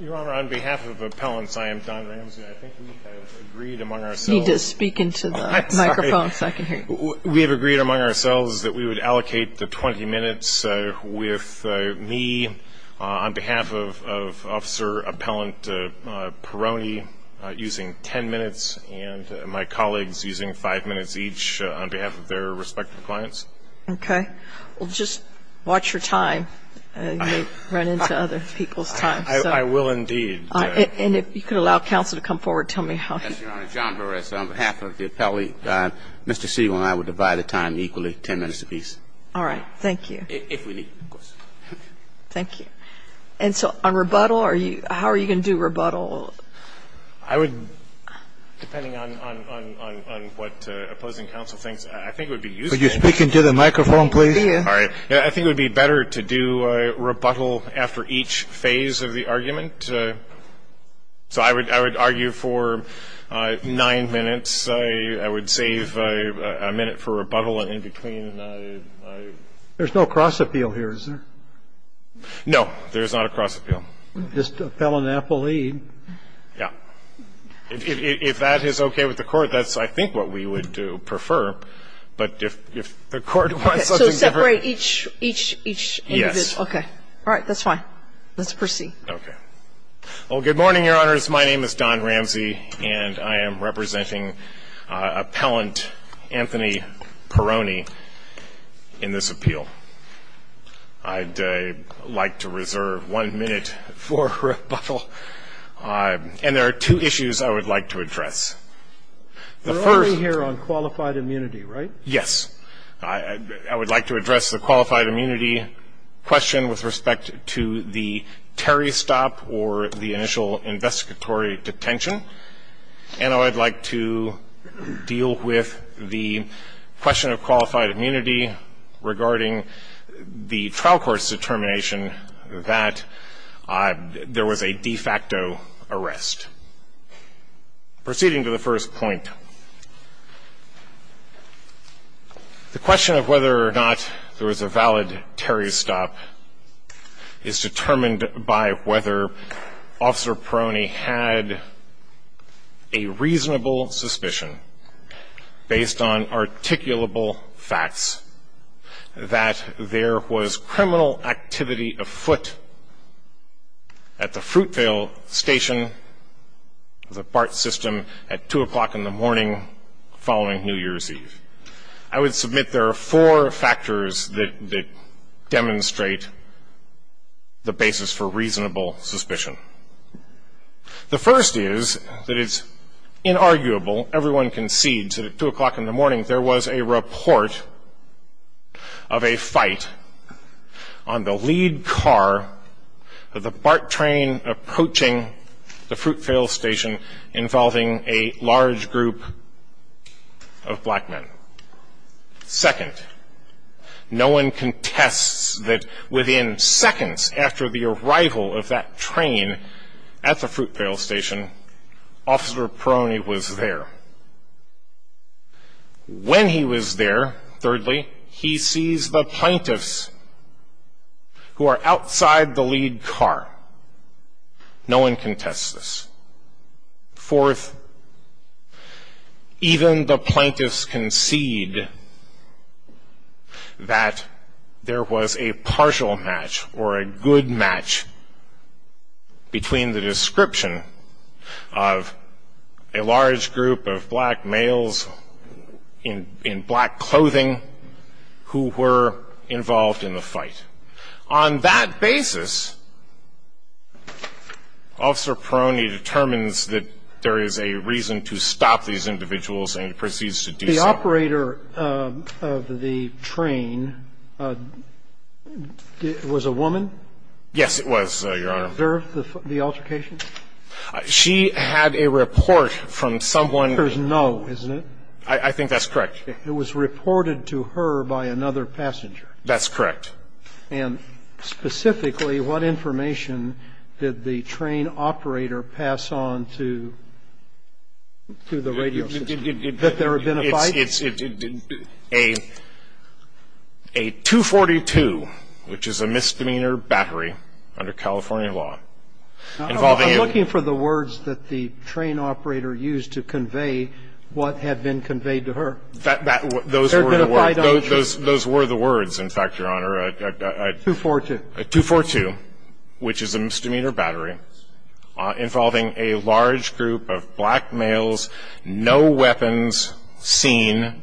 Your Honor, on behalf of appellants, I am Don Ramsey. I think we have agreed among ourselves You need to speak into the microphone so I can hear you. We have agreed among ourselves that we would allocate the 20 minutes with me, on behalf of Officer Appellant Peroni, using 10 minutes, and my colleagues using 5 minutes each on behalf of their respective clients. Okay. Well, just watch your time. You may run into other people's time. I will indeed. And if you could allow counsel to come forward, tell me how. Yes, Your Honor. John Burris, on behalf of the appellee, Mr. Siegel and I would divide the time equally, 10 minutes apiece. All right. Thank you. If we need to, of course. Thank you. And so on rebuttal, how are you going to do rebuttal? I would, depending on what opposing counsel thinks, I think it would be useful. Could you speak into the microphone, please? All right. I think it would be better to do rebuttal after each phase of the argument. So I would argue for 9 minutes. I would save a minute for rebuttal in between. There's no cross-appeal here, is there? No, there is not a cross-appeal. Just an appellee. Yeah. If that is okay with the Court, that's, I think, what we would prefer. But if the Court wants something different. Okay. So separate each individual. Yes. Okay. All right. That's fine. Let's proceed. Okay. Well, good morning, Your Honors. My name is Don Ramsey, and I am representing Appellant Anthony Peroni in this appeal. I'd like to reserve 1 minute for rebuttal. And there are two issues I would like to address. The first We're only here on qualified immunity, right? Yes. I would like to address the qualified immunity question with respect to the Terry stop or the initial investigatory detention. And I would like to deal with the question of qualified immunity regarding the trial court's determination that there was a de facto arrest. Proceeding to the first point. The question of whether or not there was a valid Terry stop is determined by whether Officer Peroni had a reasonable suspicion based on articulable facts that there was criminal activity afoot at the Fruitvale station, the BART system, at 2 o'clock in the morning following New Year's Eve. I would submit there are four factors that demonstrate the basis for reasonable suspicion. The first is that it's inarguable, everyone concedes, that at 2 o'clock in the morning there was a report of a fight on the lead car of the BART train approaching the Fruitvale station involving a large group of black men. Second, no one contests that within seconds after the arrival of that train at the Fruitvale station, Officer Peroni was there. When he was there, thirdly, he sees the plaintiffs who are outside the lead car. No one contests this. Fourth, even the plaintiffs concede that there was a partial match or a good match between the description of a large group of black males in black clothing who were involved in the fight. On that basis, Officer Peroni determines that there is a reason to stop these individuals and proceeds to do so. The operator of the train was a woman? Yes, it was, Your Honor. Did she observe the altercation? She had a report from someone. There's no, isn't it? I think that's correct. It was reported to her by another passenger. That's correct. And specifically, what information did the train operator pass on to the radio system? That there had been a fight? It's a 242, which is a misdemeanor battery under California law. I'm looking for the words that the train operator used to convey what had been conveyed to her. Those were the words, in fact, Your Honor. 242. 242, which is a misdemeanor battery involving a large group of black males, no weapons seen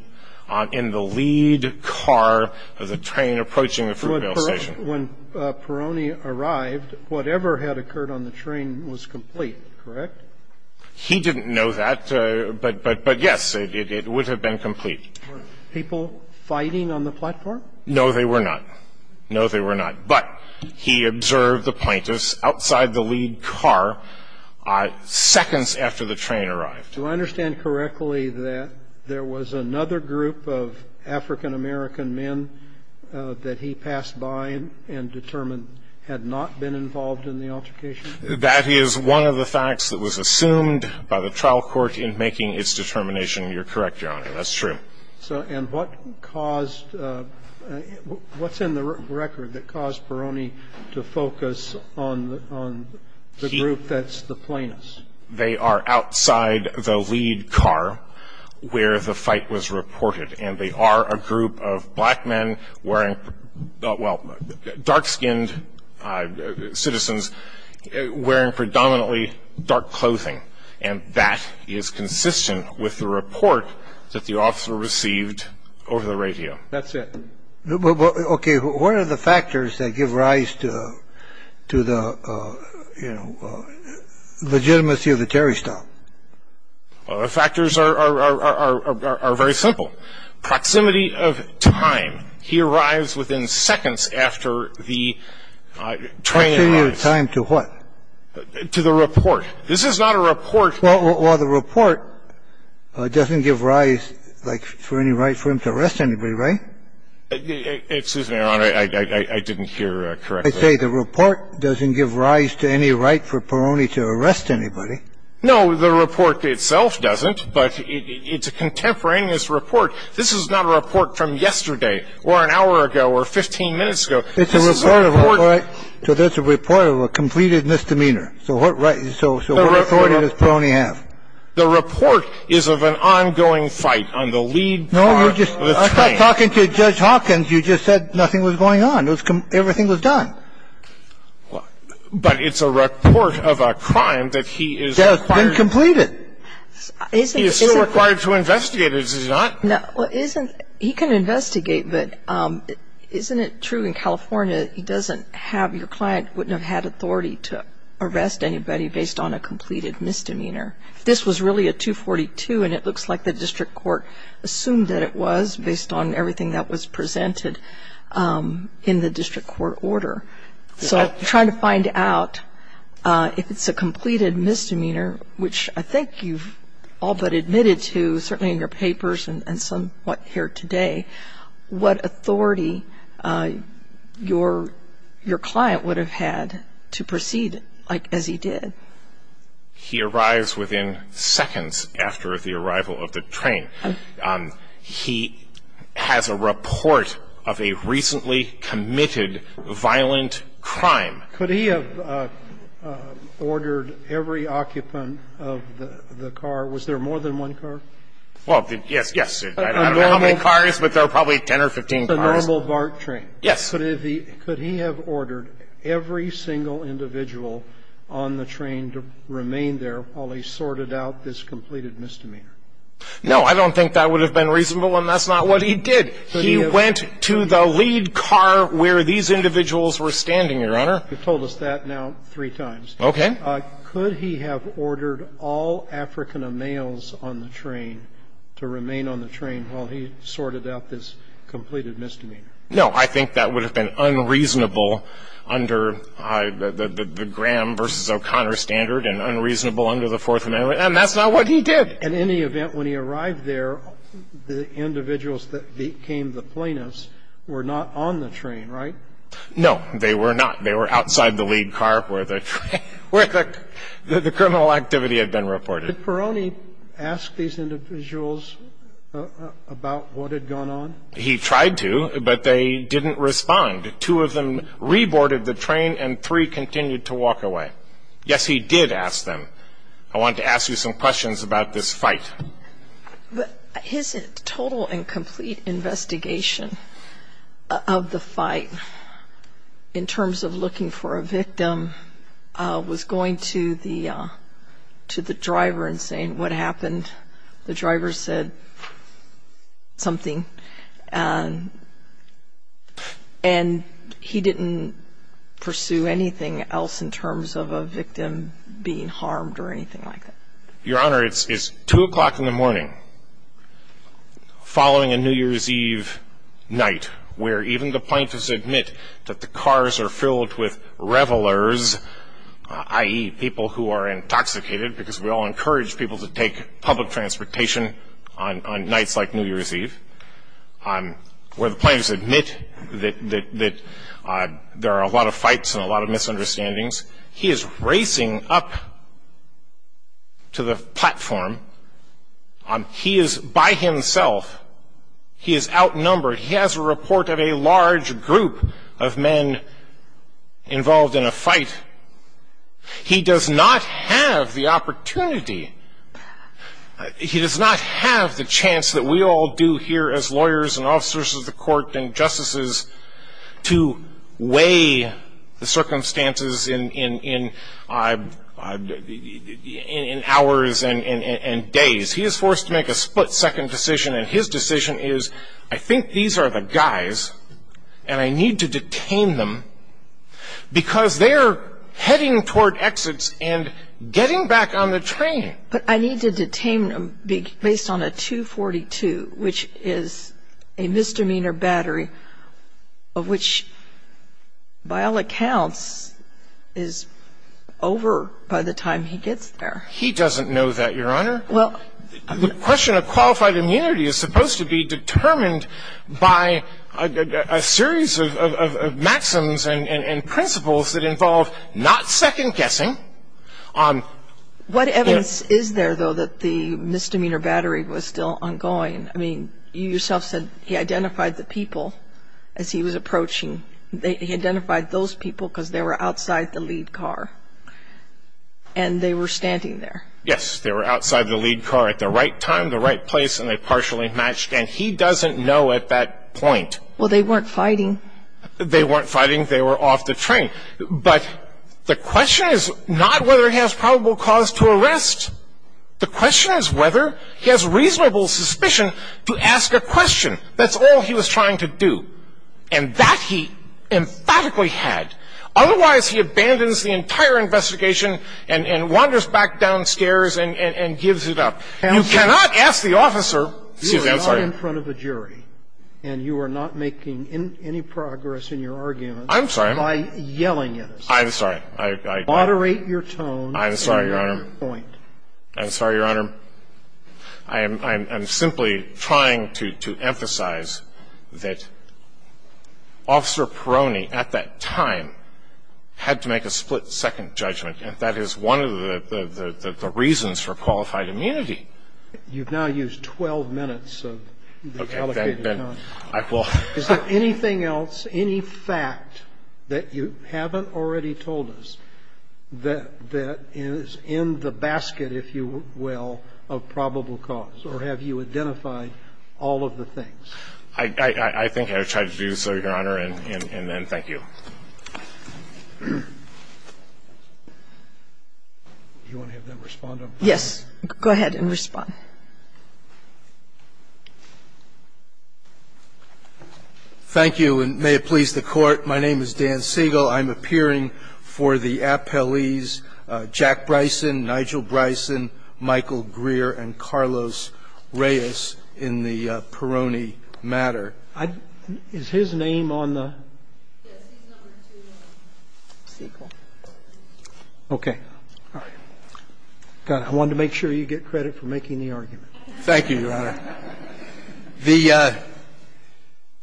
in the lead car of the train approaching the Fruitvale Station. When Peroni arrived, whatever had occurred on the train was complete, correct? He didn't know that, but, yes, it would have been complete. Were people fighting on the platform? No, they were not. No, they were not. But he observed the plaintiffs outside the lead car seconds after the train arrived. Do I understand correctly that there was another group of African American men that he passed by and determined had not been involved in the altercation? That is one of the facts that was assumed by the trial court in making its determination. You're correct, Your Honor. That's true. And what caused, what's in the record that caused Peroni to focus on the group that's the plaintiffs? They are outside the lead car where the fight was reported. And they are a group of black men wearing, well, dark-skinned citizens wearing predominantly dark clothing. And that is consistent with the report that the officer received over the radio. That's it. Okay. What are the factors that give rise to the, you know, legitimacy of the Terry stop? The factors are very simple. Proximity of time. He arrives within seconds after the train arrives. Proximity of time to what? To the report. This is not a report. Well, the report doesn't give rise, like, for any right for him to arrest anybody, right? Excuse me, Your Honor. I didn't hear correctly. I say the report doesn't give rise to any right for Peroni to arrest anybody. No. The report itself doesn't. But it's a contemporaneous report. This is not a report from yesterday or an hour ago or 15 minutes ago. This is a report. So that's a report of a completed misdemeanor. So what right, so what authority does Peroni have? The report is of an ongoing fight on the lead part of the train. No, you're just talking to Judge Hawkins. You just said nothing was going on. Everything was done. But it's a report of a crime that he is required. That has been completed. He is still required to investigate it, is he not? No. He can investigate, but isn't it true in California, he doesn't have, your client wouldn't have had authority to arrest anybody based on a completed misdemeanor? This was really a 242, and it looks like the district court assumed that it was based on everything that was presented in the district court order. So trying to find out if it's a completed misdemeanor, which I think you've all but admitted to, certainly in your papers and somewhat here today, what authority your client would have had to proceed as he did. He arrives within seconds after the arrival of the train. He has a report of a recently committed violent crime. Could he have ordered every occupant of the car? Was there more than one car? Well, yes, yes. I don't know how many cars, but there were probably 10 or 15 cars. A normal BART train. Yes. Could he have ordered every single individual on the train to remain there while he sorted out this completed misdemeanor? No. I don't think that would have been reasonable, and that's not what he did. He went to the lead car where these individuals were standing, Your Honor. You've told us that now three times. Okay. Could he have ordered all African males on the train to remain on the train while he sorted out this completed misdemeanor? No. I think that would have been unreasonable under the Graham v. O'Connor standard and unreasonable under the Fourth Amendment, and that's not what he did. In any event, when he arrived there, the individuals that became the plaintiffs were not on the train, right? No, they were not. He didn't go to the lead car where the criminal activity had been reported. Did Peroni ask these individuals about what had gone on? He tried to, but they didn't respond. Two of them reboarded the train, and three continued to walk away. Yes, he did ask them. I wanted to ask you some questions about this fight. His total and complete investigation of the fight, in terms of looking for a victim, was going to the driver and saying what happened. The driver said something, and he didn't pursue anything else in terms of a victim being harmed or anything like that. Your Honor, it's 2 o'clock in the morning, following a New Year's Eve night, where even the plaintiffs admit that the cars are filled with revelers, i.e. people who are intoxicated, because we all encourage people to take public transportation on nights like New Year's Eve, where the plaintiffs admit that there are a lot of fights and a lot of misunderstandings. He is racing up to the platform. He is, by himself, he is outnumbered. He has a report of a large group of men involved in a fight. He does not have the opportunity. He does not have the chance that we all do here as lawyers and officers of the court and justices to weigh the circumstances in hours and days. He is forced to make a split-second decision, and his decision is, I think these are the guys, and I need to detain them, because they are heading toward exits and getting back on the train. But I need to detain them based on a 242, which is a misdemeanor battery, of which, by all accounts, is over by the time he gets there. He doesn't know that, Your Honor. The question of qualified immunity is supposed to be determined by a series of maxims and principles that involve not second-guessing. What evidence is there, though, that the misdemeanor battery was still ongoing? I mean, you yourself said he identified the people as he was approaching. He identified those people because they were outside the lead car, and they were standing there. Yes, they were outside the lead car at the right time, the right place, and they partially matched, and he doesn't know at that point. Well, they weren't fighting. They weren't fighting. They were off the train. But the question is not whether he has probable cause to arrest. The question is whether he has reasonable suspicion to ask a question. That's all he was trying to do, and that he emphatically had. Otherwise, he abandons the entire investigation and wanders back downstairs and gives it up. You cannot ask the officer. Excuse me. I'm sorry. You are not in front of a jury, and you are not making any progress in your argument by yelling at us. I'm sorry. I'm sorry. Moderate your tone and your point. I'm sorry, Your Honor. I'm sorry, Your Honor. The defense has to go on. Your Honor, I'm simply trying to emphasize that Officer Peroni at that time had to make a split-second judgment. That is one of the reasons for qualified immunity. You've now used 12 minutes of allocated time. Okay. Then I will. Is there anything else, any fact that you haven't already told us that is in the basket, if you will, of probable cause? Or have you identified all of the things? I think I've tried to do so, Your Honor, and then thank you. Do you want to have them respond to them? Yes. Go ahead and respond. Thank you, and may it please the Court. My name is Dan Siegel. I'm appearing for the appellees Jack Bryson, Nigel Bryson, Michael Greer, and Carlos Reyes in the Peroni matter. Is his name on the? Yes. He's number 2, Siegel. Okay. All right. I wanted to make sure you get credit for making the argument. Thank you, Your Honor.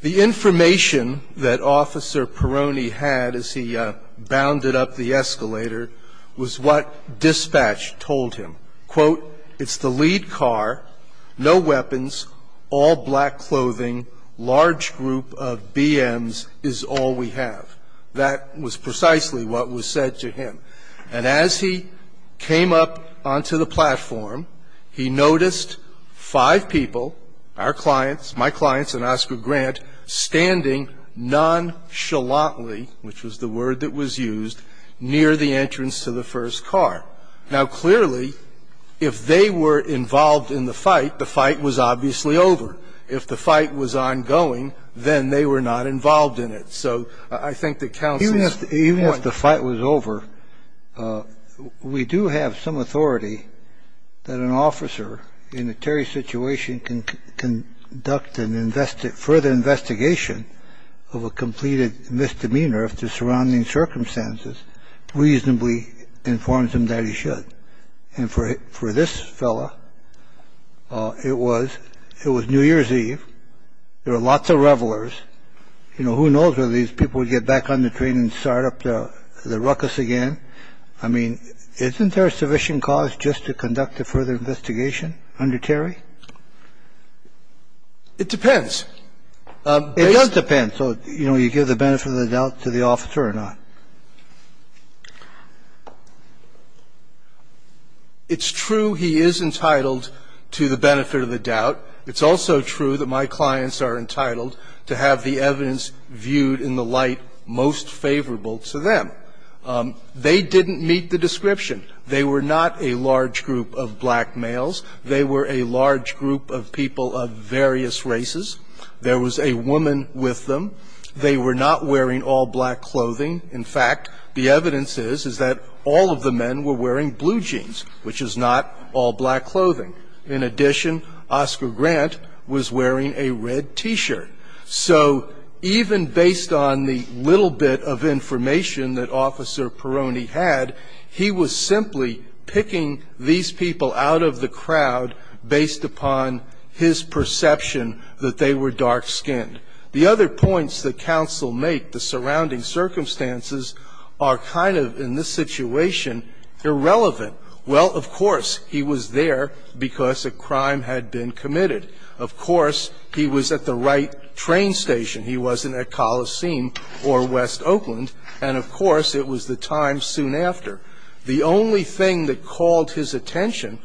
The information that Officer Peroni had as he bounded up the escalator was what dispatch told him. Quote, it's the lead car, no weapons, all black clothing, large group of BMs is all we have. That was precisely what was said to him. And as he came up onto the platform, he noticed five people, our clients, my clients and Oscar Grant, standing nonchalantly, which was the word that was used, near the entrance to the first car. Now, clearly, if they were involved in the fight, the fight was obviously over. If the fight was ongoing, then they were not involved in it. So I think that counts as one. If the fight was over, we do have some authority that an officer in a terry situation can conduct and further investigation of a completed misdemeanor if the surrounding circumstances reasonably informs him that he should. And for this fellow, it was New Year's Eve. There were lots of revelers. I mean, isn't there a sufficient cause just to conduct a further investigation under Terry? You know, who knows whether these people would get back on the train and start up the ruckus again? I mean, isn't there a sufficient cause just to conduct a further investigation under Terry? It depends. It does depend. So, you know, do you give the benefit of the doubt to the officer or not? It's true he is entitled to the benefit of the doubt. It's also true that my clients are entitled to have the evidence viewed in the light most favorable to them. They didn't meet the description. They were not a large group of black males. They were a large group of people of various races. There was a woman with them. They were not wearing all black clothing. In fact, the evidence is, is that all of the men were wearing blue jeans, which is not all black clothing. In addition, Oscar Grant was wearing a red T-shirt. So even based on the little bit of information that Officer Peroni had, he was simply picking these people out of the crowd based upon his perception that they were dark skinned. The other points that counsel make, the surrounding circumstances, are kind of, in this situation, irrelevant. Well, of course, he was there because a crime had been committed. Of course, he was at the right train station. He wasn't at Coliseum or West Oakland. And of course, it was the time soon after. The only thing that called his attention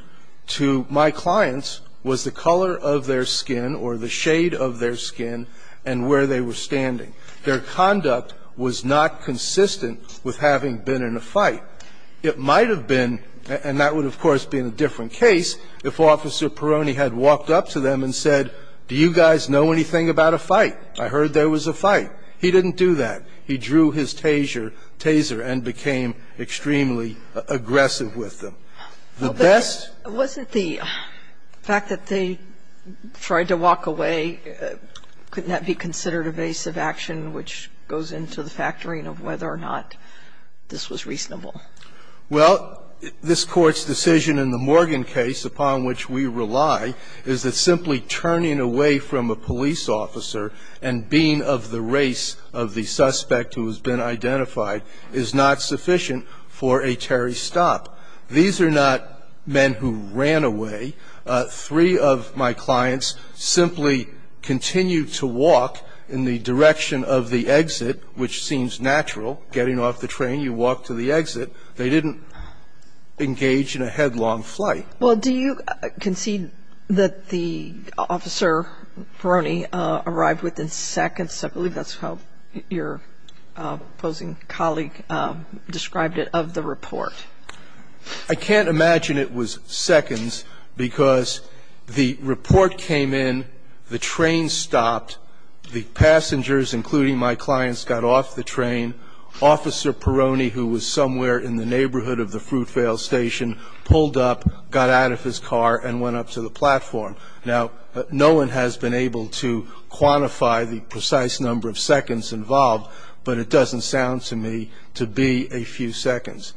to my clients was the color of their skin or the shade of their skin and where they were standing. Their conduct was not consistent with having been in a fight. It might have been, and that would, of course, be in a different case, if Officer Peroni had walked up to them and said, do you guys know anything about a fight? I heard there was a fight. He didn't do that. He drew his taser and became extremely aggressive with them. The best Wasn't the fact that they tried to walk away, couldn't that be considered evasive action, which goes into the factoring of whether or not this was reasonable? Well, this Court's decision in the Morgan case, upon which we rely, is that simply turning away from a police officer and being of the race of the suspect who has been These are not men who ran away. Three of my clients simply continued to walk in the direction of the exit, which seems natural. Getting off the train, you walk to the exit. They didn't engage in a headlong flight. Well, do you concede that the officer, Peroni, arrived within seconds? I believe that's how your opposing colleague described it of the report. I can't imagine it was seconds because the report came in, the train stopped, the passengers, including my clients, got off the train. Officer Peroni, who was somewhere in the neighborhood of the Fruitvale Station, pulled up, got out of his car, and went up to the platform. Now, no one has been able to quantify the precise number of seconds involved, but it doesn't sound to me to be a few seconds.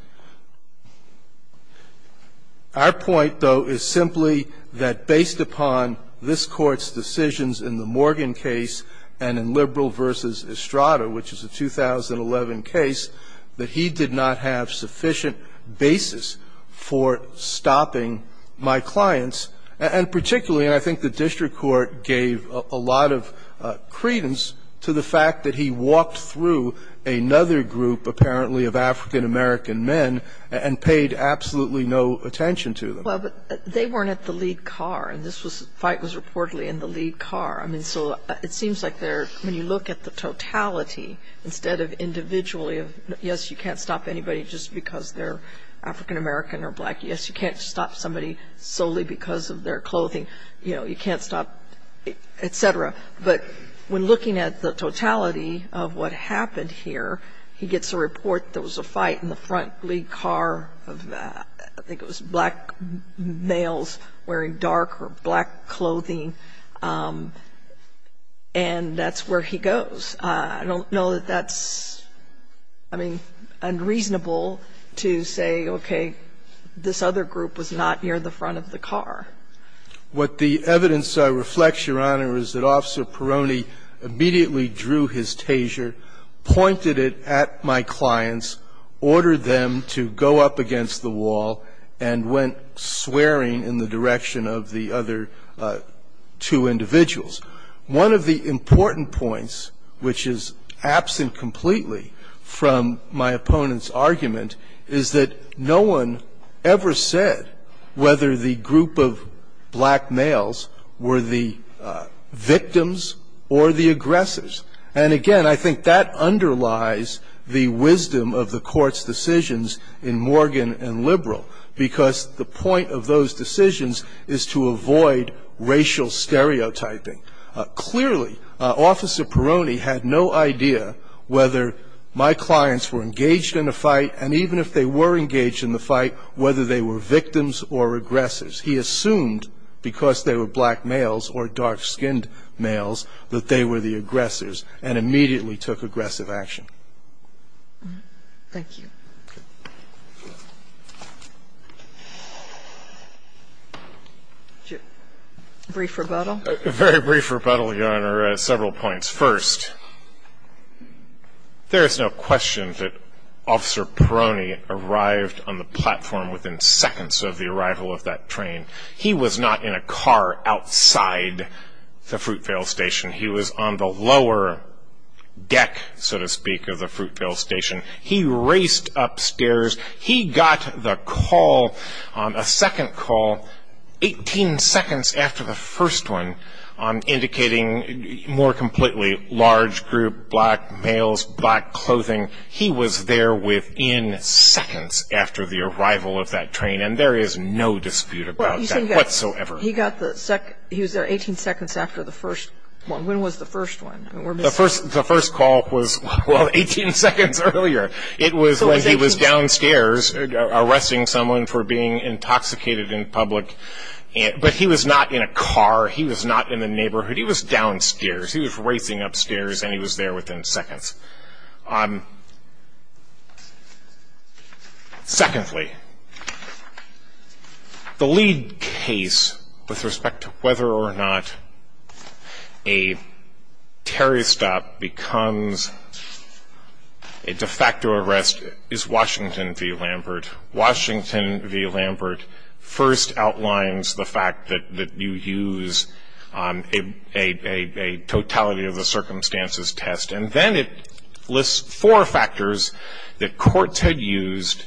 Our point, though, is simply that based upon this Court's decisions in the Morgan case and in Liberal v. Estrada, which is a 2011 case, that he did not have sufficient basis for stopping my clients, and particularly I think the district court gave a lot of credence to the fact that he walked through another group, apparently of African-American men, and paid absolutely no attention to them. But they weren't at the lead car, and this fight was reportedly in the lead car. I mean, so it seems like they're, when you look at the totality, instead of individually of, yes, you can't stop anybody just because they're African-American or black, yes, you can't stop somebody solely because of their clothing, you know, you can't stop, et cetera. But when looking at the totality of what happened here, he gets a report there was a fight in the front lead car of, I think it was black males wearing dark or black clothing, and that's where he goes. I don't know that that's, I mean, unreasonable to say, okay, this other group was not near the front of the car. What the evidence reflects, Your Honor, is that Officer Peroni immediately drew his taser, pointed it at my clients, ordered them to go up against the wall, and went swearing in the direction of the other two individuals. One of the important points, which is absent completely from my opponent's argument, is that no one ever said whether the group of black males were the victims or the aggressors. And, again, I think that underlies the wisdom of the Court's decisions in Morgan and Liberal, because the point of those decisions is to avoid racial stereotyping. Clearly, Officer Peroni had no idea whether my clients were engaged in the fight and even if they were engaged in the fight, whether they were victims or aggressors. He assumed because they were black males or dark-skinned males that they were the aggressors and immediately took aggressive action. Thank you. Very brief rebuttal, Your Honor, several points. First, there is no question that Officer Peroni arrived on the platform within seconds of the arrival of that train. He was not in a car outside the Fruitvale Station. He was on the lower deck, so to speak, of the Fruitvale Station. He raced upstairs. He got the call, a second call, 18 seconds after the first one, indicating a more completely large group, black males, black clothing. He was there within seconds after the arrival of that train, and there is no dispute about that whatsoever. He was there 18 seconds after the first one. When was the first one? The first call was, well, 18 seconds earlier. It was when he was downstairs arresting someone for being intoxicated in public, but he was not in a car. He was not in the neighborhood. He was downstairs. He was racing upstairs, and he was there within seconds. Secondly, the lead case with respect to whether or not a Terry stop becomes a de facto arrest is Washington v. Lambert. Washington v. Lambert first outlines the fact that you use a totality of the four factors that courts had used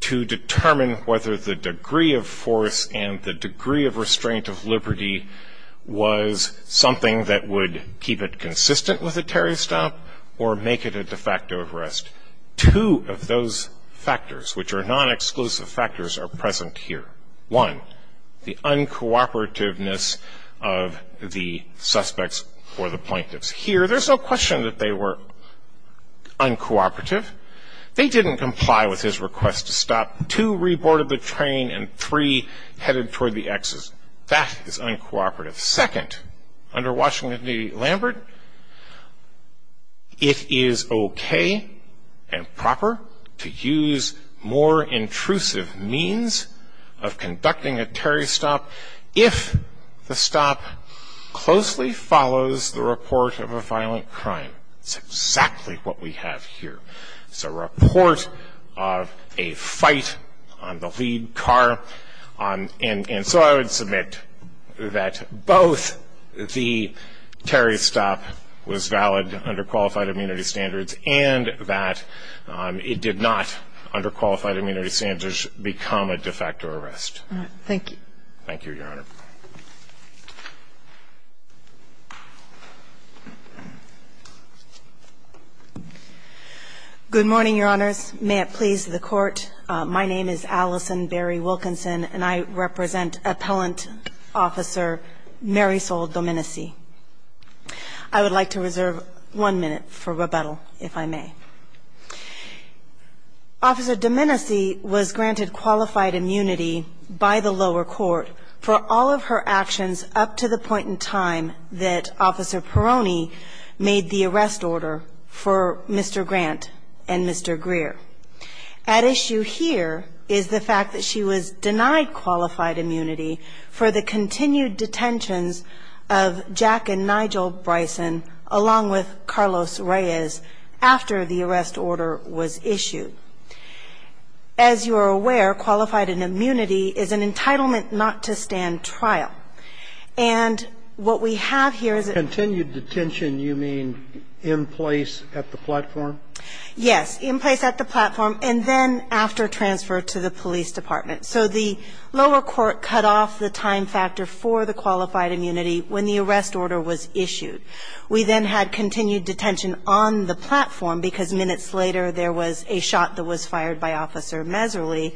to determine whether the degree of force and the degree of restraint of liberty was something that would keep it consistent with a Terry stop or make it a de facto arrest. Two of those factors, which are non-exclusive factors, are present here. One, the uncooperativeness of the suspects or the plaintiffs. Here, there's no question that they were uncooperative. They didn't comply with his request to stop. Two, re-boarded the train, and three, headed toward the exit. That is uncooperative. Second, under Washington v. Lambert, it is okay and proper to use more intrusive means of conducting a Terry stop if the stop closely follows the report of a violent crime. It's exactly what we have here. It's a report of a fight on the lead car. And so I would submit that both the Terry stop was valid under qualified immunity standards and that it did not, under qualified immunity standards, become a de facto arrest. All right. Thank you. Thank you, Your Honor. Good morning, Your Honors. May it please the Court. My name is Allison Berry Wilkinson, and I represent Appellant Officer Marisol Domenici. I would like to reserve one minute for rebuttal, if I may. Officer Domenici was granted qualified immunity by the lower court for all of her actions up to the point in time that Officer Peroni made the arrest order for Mr. Grant and Mr. Greer. At issue here is the fact that she was denied qualified immunity for the continued detentions of Jack and Nigel Bryson, along with Carlos Reyes, after the arrest order was issued. As you are aware, qualified immunity is an entitlement not to stand trial. And what we have here is a ---- Continued detention, you mean in place at the platform? Yes, in place at the platform, and then after transfer to the police department. So the lower court cut off the time factor for the qualified immunity when the arrest order was issued. We then had continued detention on the platform because minutes later there was a shot that was fired by Officer Meserly,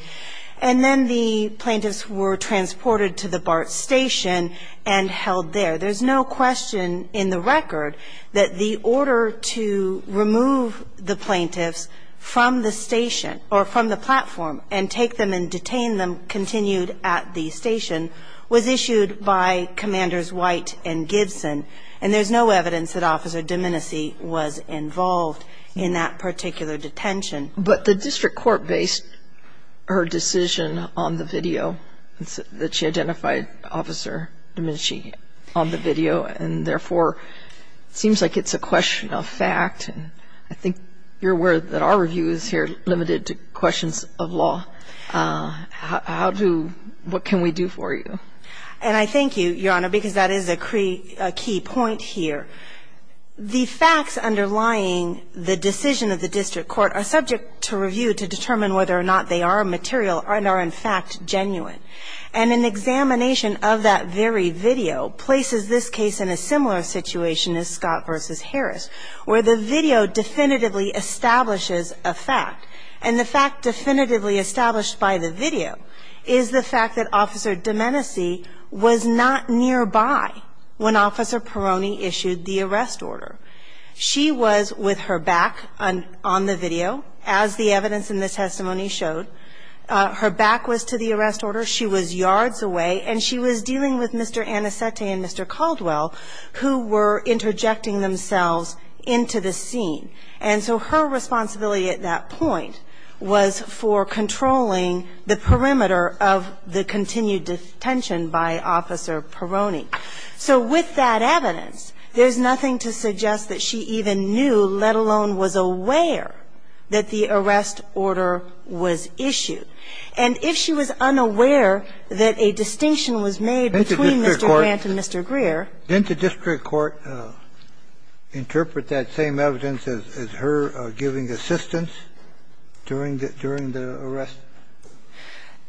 and then the plaintiffs were transported to the BART station and held there. There's no question in the record that the order to remove the plaintiffs from the station, or from the platform, and take them and detain them continued at the station, was issued by Commanders White and Gibson. And there's no evidence that Officer Domenici was involved in that particular detention. But the district court based her decision on the video that she identified Officer Domenici on the video, and therefore, it seems like it's a question of fact. And I think you're aware that our review is here limited to questions of law. How do ---- What can we do for you? And I thank you, Your Honor, because that is a key point here. The facts underlying the decision of the district court are subject to review to determine whether or not they are material and are, in fact, genuine. And an examination of that very video places this case in a similar situation as Scott v. Harris, where the video definitively establishes a fact. And the fact definitively established by the video is the fact that Officer Domenici was not nearby when Officer Peroni issued the arrest order. She was with her back on the video, as the evidence in the testimony showed. Her back was to the arrest order. She was yards away. And she was dealing with Mr. Anicetti and Mr. Caldwell, who were interjecting themselves into the scene. And so her responsibility at that point was for controlling the perimeter of the continued detention by Officer Peroni. So with that evidence, there's nothing to suggest that she even knew, let alone was aware, that the arrest order was issued. And if she was unaware that a distinction was made between Mr. Grant and Mr. Greer Didn't the district court interpret that same evidence as her giving assistance during the arrest?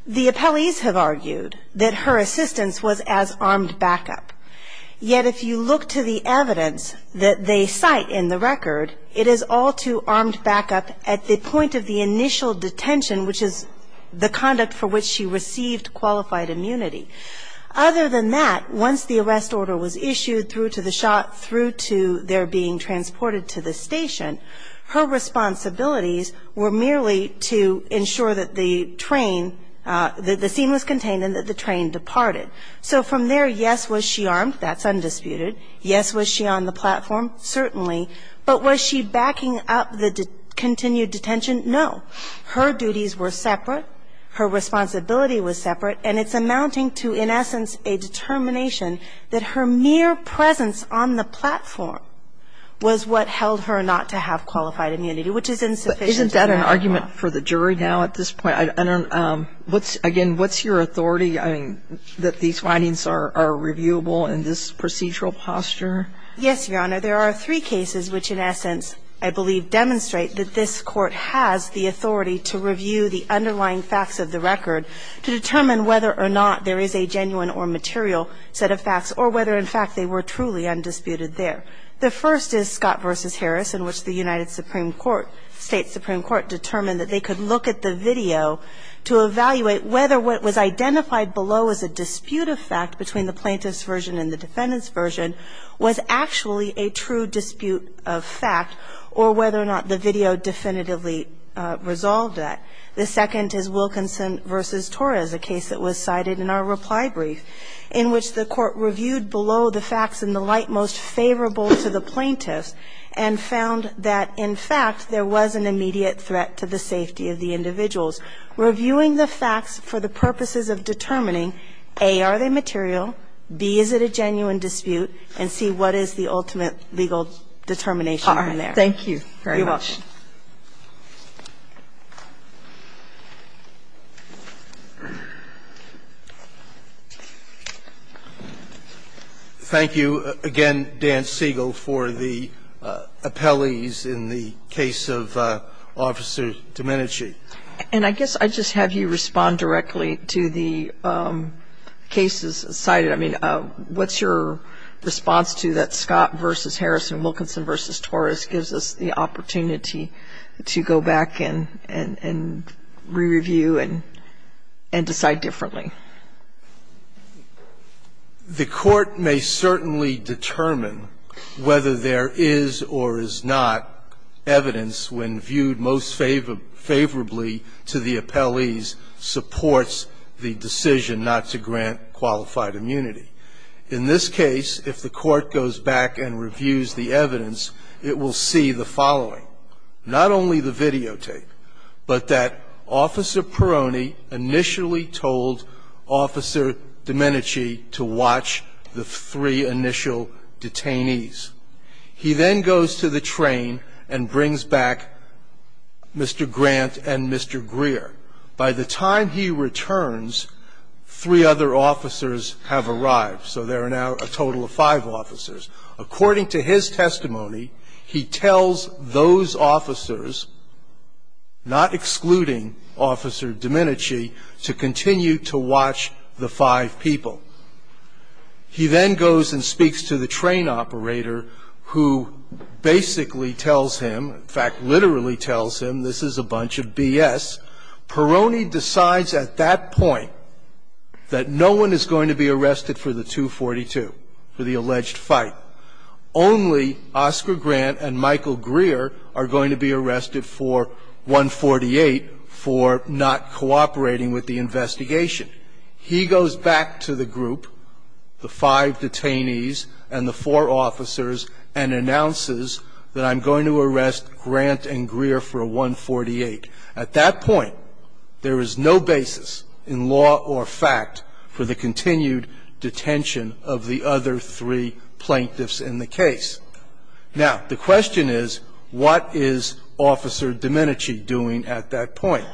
The appellees have argued that her assistance was as armed backup. Yet if you look to the evidence that they cite in the record, it is all to armed backup at the point of the initial detention, which is the conduct for which she received qualified immunity. Other than that, once the arrest order was issued through to the shot, through to their being transported to the station, her responsibilities were merely to ensure that the train, that the scene was contained and that the train departed. So from there, yes, was she armed. That's undisputed. Yes, was she on the platform? Certainly. But was she backing up the continued detention? No. Her duties were separate. Her responsibility was separate. And it's amounting to, in essence, a determination that her mere presence on the platform was what held her not to have qualified immunity, which is insufficient. Isn't that an argument for the jury now at this point? I don't know. Again, what's your authority? I mean, that these findings are reviewable in this procedural posture? Yes, Your Honor. There are three cases which, in essence, I believe, demonstrate that this Court has the authority to review the underlying facts of the case, whether or not there is a genuine or material set of facts, or whether, in fact, they were truly undisputed there. The first is Scott v. Harris, in which the United States Supreme Court determined that they could look at the video to evaluate whether what was identified below as a dispute of fact between the plaintiff's version and the defendant's version was actually a true dispute of fact, or whether or not the video definitively resolved that. The second is Wilkinson v. Torres, a case that was cited in our reply brief, in which the Court reviewed below the facts in the light most favorable to the plaintiff's and found that, in fact, there was an immediate threat to the safety of the individuals. Reviewing the facts for the purposes of determining, A, are they material, B, is it a genuine dispute, and C, what is the ultimate legal determination in there. Thank you very much. You're welcome. Thank you. Thank you again, Dan Siegel, for the appellees in the case of Officer Domenici. And I guess I'd just have you respond directly to the cases cited. I mean, what's your response to that Scott v. Domenici to go back and re-review and decide differently? The Court may certainly determine whether there is or is not evidence when viewed most favorably to the appellees supports the decision not to grant qualified immunity. In this case, if the Court goes back and reviews the evidence, it will see the evidence, not only the videotape, but that Officer Peroni initially told Officer Domenici to watch the three initial detainees. He then goes to the train and brings back Mr. Grant and Mr. Greer. By the time he returns, three other officers have arrived. So there are now a total of five officers. According to his testimony, he tells those officers, not excluding Officer Domenici, to continue to watch the five people. He then goes and speaks to the train operator, who basically tells him, in fact, literally tells him this is a bunch of B.S. Peroni decides at that point that no one is going to be arrested for the 242, for the alleged fight. Only Oscar Grant and Michael Greer are going to be arrested for 148 for not cooperating with the investigation. He goes back to the group, the five detainees and the four officers, and announces that I'm going to arrest Grant and Greer for 148. At that point, there is no basis in law or fact for the continued detention of the other three plaintiffs in the case. Now, the question is, what is Officer Domenici doing at that point?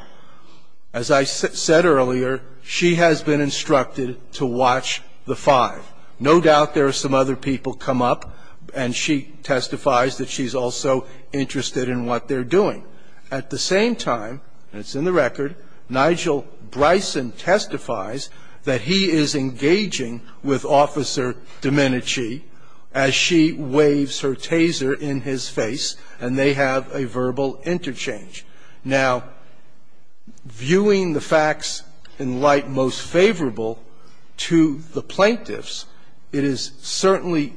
As I said earlier, she has been instructed to watch the five. No doubt there are some other people come up, and she testifies that she's also interested in what they're doing. At the same time, and it's in the record, Nigel Bryson testifies that he is engaging with Officer Domenici as she waves her taser in his face, and they have a verbal interchange. Now, viewing the facts in light most favorable to the plaintiffs, it is certainly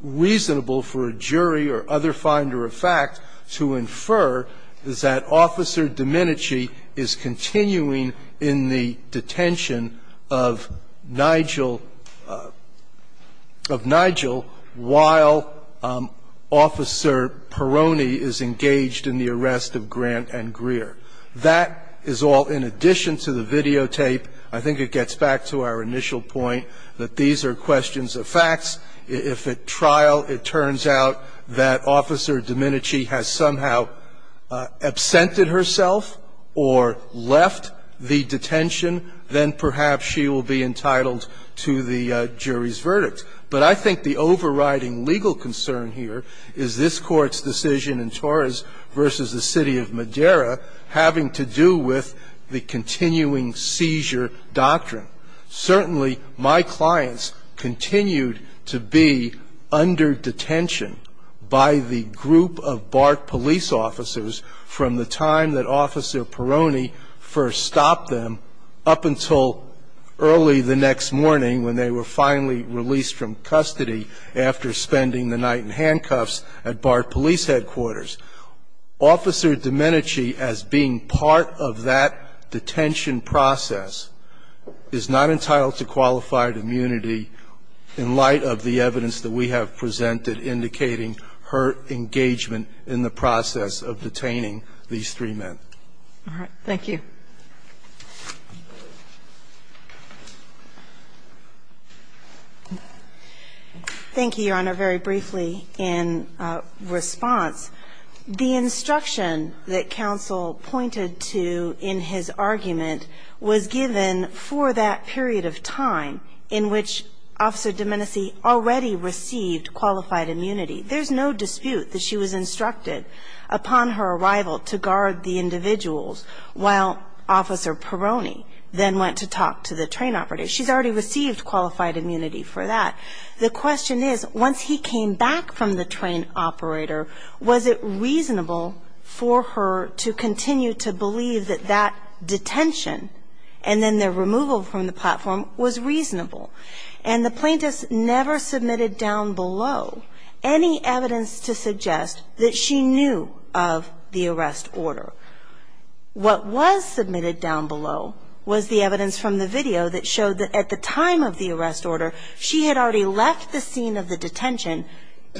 reasonable for a jury or other finder of fact to infer that Officer Domenici is continuing in the detention of Nigel, of Nigel, while Officer Peroni is engaged in the arrest of Grant and Greer. That is all in addition to the videotape. I think it gets back to our initial point that these are questions of facts. If at trial it turns out that Officer Domenici has somehow absented herself, or left the detention, then perhaps she will be entitled to the jury's verdict. But I think the overriding legal concern here is this Court's decision in Torres v. the City of Madera having to do with the continuing seizure doctrine. Certainly, my clients continued to be under detention by the group of BART police officers from the time that Officer Peroni first stopped them up until early the next morning when they were finally released from custody after spending the night in handcuffs at BART police headquarters. Officer Domenici, as being part of that detention process, is not entitled to qualified immunity in light of the evidence that we have presented indicating her engagement in the process of detaining these three men. All right. Thank you. Thank you, Your Honor. Very briefly in response, the instruction that counsel pointed to in his argument was given for that period of time in which Officer Domenici already received qualified immunity. There's no dispute that she was instructed upon her arrival to guard the individuals while Officer Peroni then went to talk to the train operator. She's already received qualified immunity for that. The question is, once he came back from the train operator, was it reasonable for her to continue to believe that that detention and then the removal from the platform was reasonable? And the plaintiffs never submitted down below any evidence to suggest that she knew of the arrest order. What was submitted down below was the evidence from the video that showed that at the time of the arrest order, she had already left the scene of the detention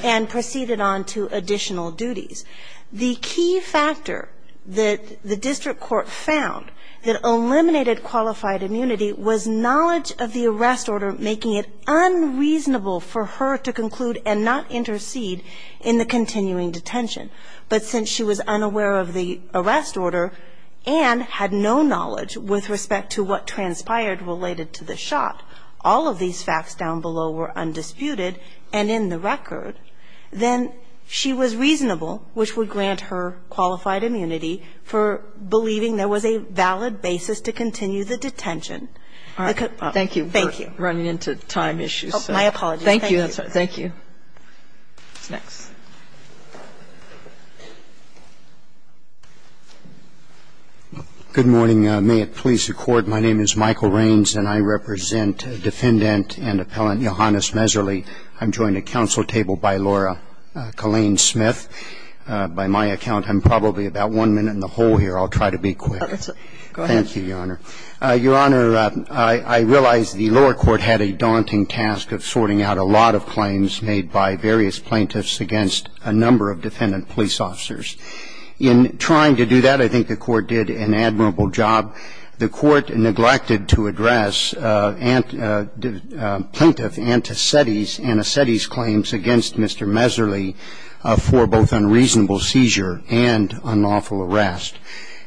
and proceeded on to additional duties. The key factor that the district court found that eliminated qualified immunity was knowledge of the arrest order, making it unreasonable for her to conclude and not intercede in the continuing detention. But since she was unaware of the arrest order and had no knowledge with respect to what transpired related to the shot, all of these facts down below were undisputed and in the record. Then she was reasonable, which would grant her qualified immunity, for believing there was a valid basis to continue the detention. Thank you. Thank you. We're running into time issues. My apologies. Thank you. Thank you. Next. Good morning. May it please the Court. My name is Michael Raines, and I represent Defendant and Appellant Johannes Meserle. I'm joined at council table by Laura Killeen Smith. By my account, I'm probably about one minute in the hole here. I'll try to be quick. Go ahead. Thank you, Your Honor. Your Honor, I realize the lower court had a daunting task of sorting out a lot of claims made by various plaintiffs against a number of defendant police officers. In trying to do that, I think the Court did an admirable job. The Court neglected to address plaintiff Antacetti's claims against Mr. Meserle for both unreasonable seizure and unlawful arrest.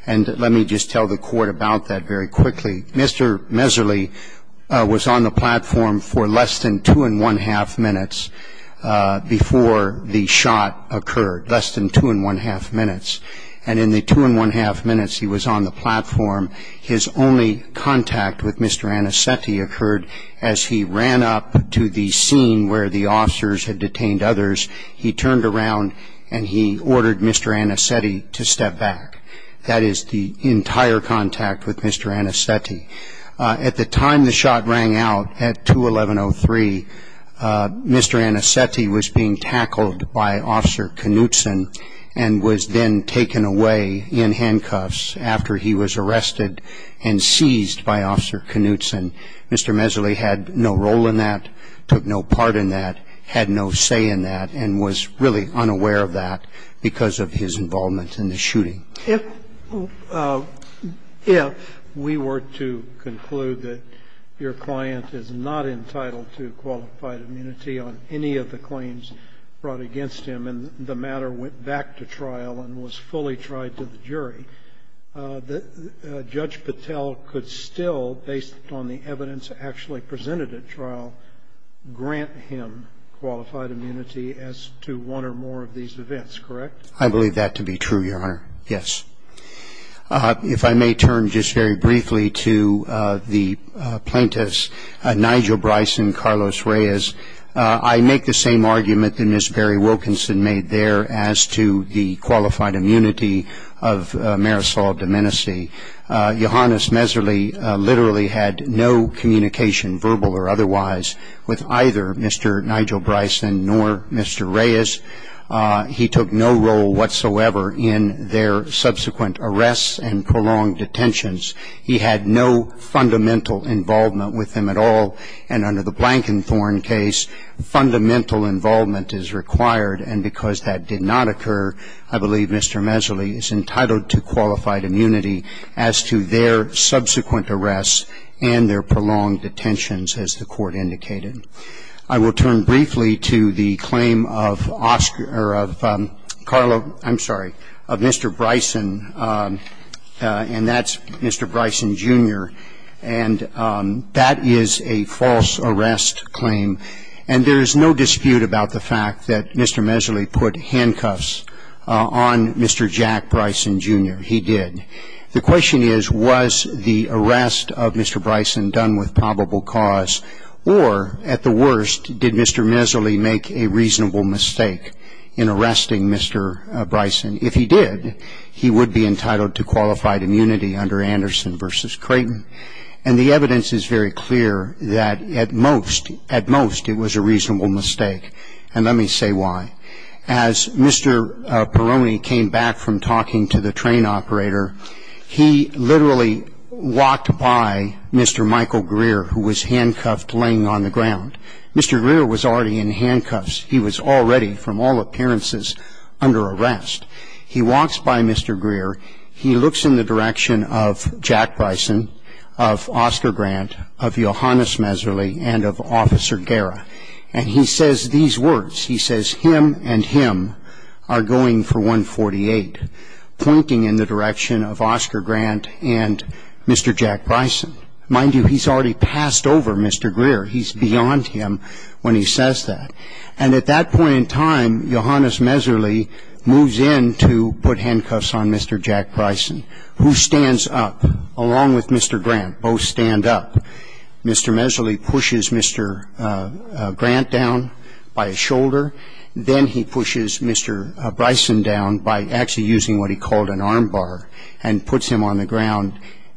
And let me just tell the Court about that very quickly. Mr. Meserle was on the platform for less than two and one-half minutes before the shot occurred, less than two and one-half minutes. And in the two and one-half minutes he was on the platform, his only contact with Mr. Antacetti occurred as he ran up to the scene where the officers had detained others. He turned around and he ordered Mr. Antacetti to step back. That is the entire contact with Mr. Antacetti. At the time the shot rang out at 2-1103, Mr. Antacetti was being tackled by Officer Knutson and was then taken away in handcuffs after he was arrested and seized by Officer Knutson. Mr. Meserle had no role in that, took no part in that, had no say in that, and was really unaware of that because of his involvement in the shooting. If we were to conclude that your client is not entitled to qualified immunity on any of the claims brought against him and the matter went back to trial and was fully tried to the jury, Judge Patel could still, based on the evidence actually presented at trial, grant him qualified immunity as to one or more of these events, correct? I believe that to be true, Your Honor, yes. If I may turn just very briefly to the plaintiffs, Nigel Bryce and Carlos Reyes, I make the same argument that Ms. Barry Wilkinson made there as to the qualified immunity of Marisol Domenici. Johannes Meserle literally had no communication, verbal or otherwise, with either Mr. Nigel Bryce and nor Mr. Reyes. He took no role whatsoever in their subsequent arrests and prolonged detentions. He had no fundamental involvement with them at all, and under the Blankenthorne case, fundamental involvement is required, and because that did not occur, I believe Mr. Meserle is entitled to qualified immunity as to their subsequent arrests and their prolonged detentions, as the Court indicated. I will turn briefly to the claim of Oscar or of Carlo, I'm sorry, of Mr. Bryson, and that's a false arrest claim, and there is no dispute about the fact that Mr. Meserle put handcuffs on Mr. Jack Bryson, Jr. He did. The question is, was the arrest of Mr. Bryson done with probable cause, or at the worst, did Mr. Meserle make a reasonable mistake in arresting Mr. Bryson? If he did, he would be entitled to qualified immunity under Anderson v. Creighton, and the evidence is very clear that at most, at most, it was a reasonable mistake, and let me say why. As Mr. Perrone came back from talking to the train operator, he literally walked by Mr. Michael Greer, who was handcuffed laying on the ground. Mr. Greer was already in handcuffs. He was already, from all appearances, under arrest. He walks by Mr. Greer. He looks in the direction of Jack Bryson, of Oscar Grant, of Johannes Meserle, and of Officer Guerra, and he says these words. He says, him and him are going for 148, pointing in the direction of Oscar Grant and Mr. Jack Bryson. Mind you, he's already passed over Mr. Greer. He's beyond him when he says that. And at that point in time, Johannes Meserle moves in to put handcuffs on Mr. Jack Bryson, who stands up along with Mr. Grant, both stand up. Mr. Meserle pushes Mr. Grant down by his shoulder. Then he pushes Mr. Bryson down by actually using what he called an armbar and puts him on the ground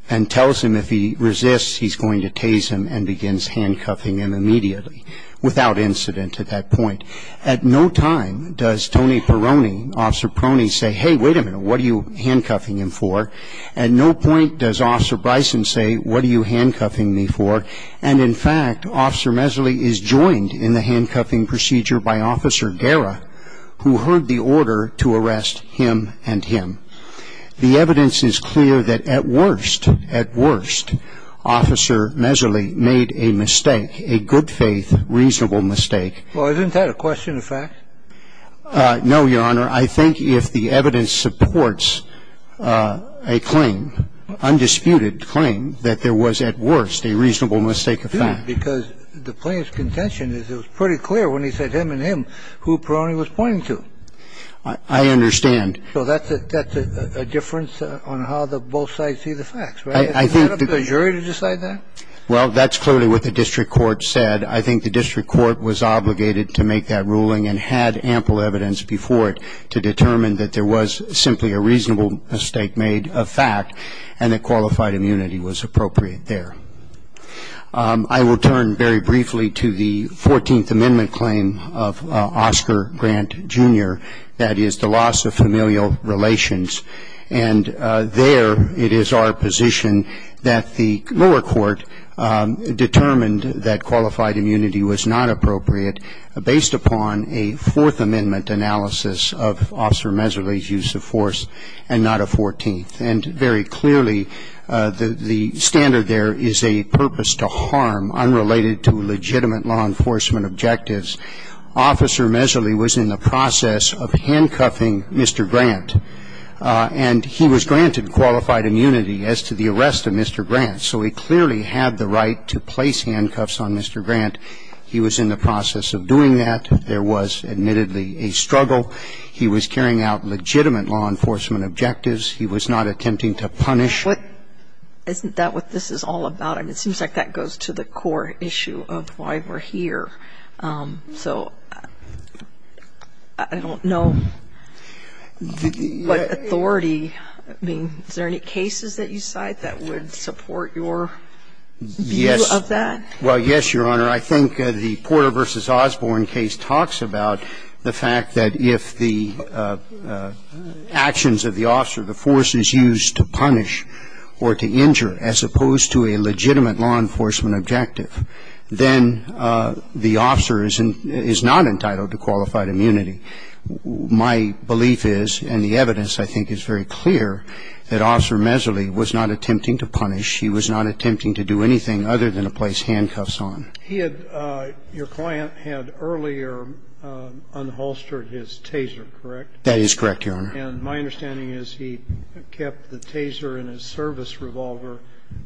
and tells him if he resists, he's going to tase him and begins handcuffing him immediately, without incident at that point. At no time does Tony Peroni, Officer Peroni, say, hey, wait a minute, what are you handcuffing him for? At no point does Officer Bryson say, what are you handcuffing me for? And, in fact, Officer Meserle is joined in the handcuffing procedure by Officer Guerra, who heard the order to arrest him and him. The evidence is clear that at worst, at worst, Officer Meserle made a mistake, a good faith, reasonable mistake. Well, isn't that a question of fact? No, Your Honor. I think if the evidence supports a claim, undisputed claim, that there was at worst a reasonable mistake of fact. Because the plaintiff's contention is it was pretty clear when he said him and him who Peroni was pointing to. I understand. So that's a difference on how both sides see the facts, right? I think the jury to decide that? Well, that's clearly what the district court said. I think the district court was obligated to make that ruling and had ample evidence before it to determine that there was simply a reasonable mistake made of fact and that qualified immunity was appropriate there. I will turn very briefly to the 14th Amendment claim of Oscar Grant, Jr., that is the loss of familial relations. And there it is our position that the lower court determined that qualified immunity was not appropriate based upon a Fourth Amendment analysis of Officer Meserle's use of force and not a 14th. And very clearly, the standard there is a purpose to harm unrelated to legitimate law enforcement objectives. Officer Meserle was in the process of handcuffing Mr. Grant. And he was granted qualified immunity as to the arrest of Mr. Grant. So he clearly had the right to place handcuffs on Mr. Grant. He was in the process of doing that. There was admittedly a struggle. He was carrying out legitimate law enforcement objectives. He was not attempting to punish. Isn't that what this is all about? I mean, it seems like that goes to the core issue of why we're here. So I don't know what authority, I mean, is there any cases that you cite that would support your view of that? Yes. Well, yes, Your Honor. I think the Porter v. Osborne case talks about the fact that if the actions of the officer, the force is used to punish or to injure as opposed to a legitimate law enforcement objective, then the officer is not entitled to qualified immunity. My belief is, and the evidence I think is very clear, that Officer Meserle was not attempting to punish. He was not attempting to do anything other than to place handcuffs on. He had, your client had earlier unholstered his taser, correct? That is correct, Your Honor. And my understanding is he kept the taser and his service revolver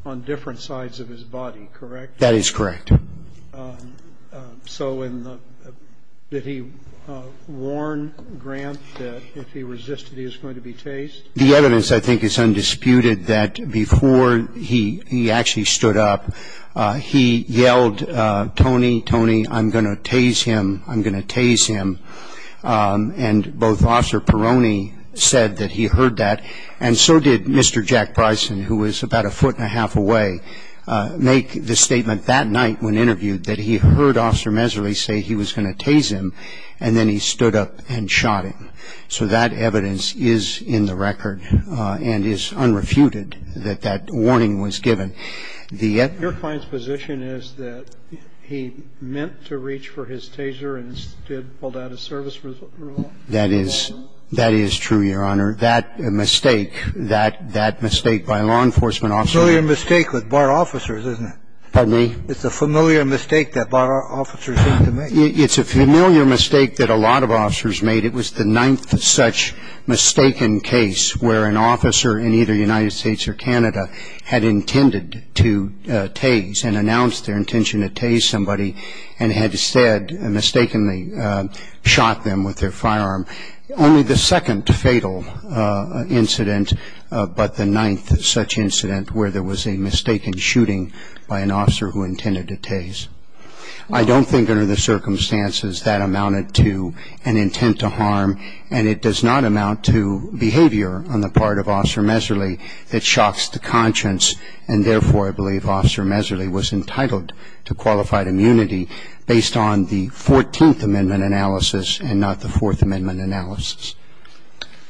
on different sides of his body, correct? That is correct. So in the, did he warn Grant that if he resisted, he was going to be tased? The evidence I think is undisputed that before he actually stood up, he yelled, Tony, Tony, I'm going to tase him, I'm going to tase him. And both Officer Peroni said that he heard that, and so did Mr. Jack Bryson, who was about a foot and a half away, make the statement that night when interviewed that he heard Officer Meserle say he was going to tase him, and then he stood up and shot him. So that evidence is in the record and is unrefuted that that warning was given. Your client's position is that he meant to reach for his taser and instead pulled out his service revolver? That is true, Your Honor. That mistake, that mistake by law enforcement officers. It's a familiar mistake with bar officers, isn't it? Pardon me? It's a familiar mistake that bar officers seem to make. It's a familiar mistake that a lot of officers made. It was the ninth such mistaken case where an officer in either the United States or Canada had intended to tase and announced their intention to tase somebody and had said and mistakenly shot them with their firearm. Only the second fatal incident, but the ninth such incident where there was a mistaken shooting by an officer who intended to tase. I don't think under the circumstances that amounted to an intent to harm, and it does not amount to behavior on the part of Officer Meserle that shocks the conscience, and therefore I believe Officer Meserle was entitled to qualified immunity based on the Fourteenth Amendment analysis and not the Fourth Amendment analysis.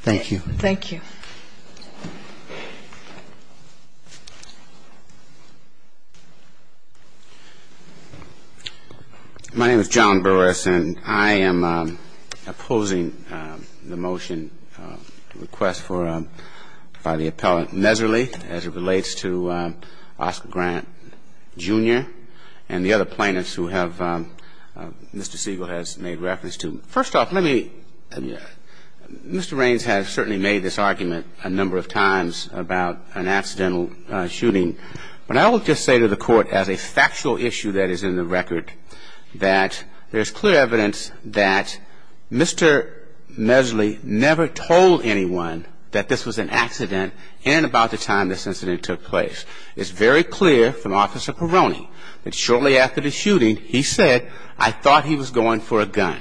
Thank you. Thank you. My name is John Burris, and I am opposing the motion request by the appellant Meserle as it relates to Oscar Grant, Jr. and the other plaintiffs who Mr. Siegel has made reference to. First off, Mr. Raines has certainly made this argument a number of times about an accidental shooting, but I will just say to the Court as a factual issue that is in the record that there is clear evidence that Mr. Meserle never told anyone that this was an accident and about the time this incident took place. It's very clear from Officer Perrone that shortly after the shooting he said, I thought he was going for a gun.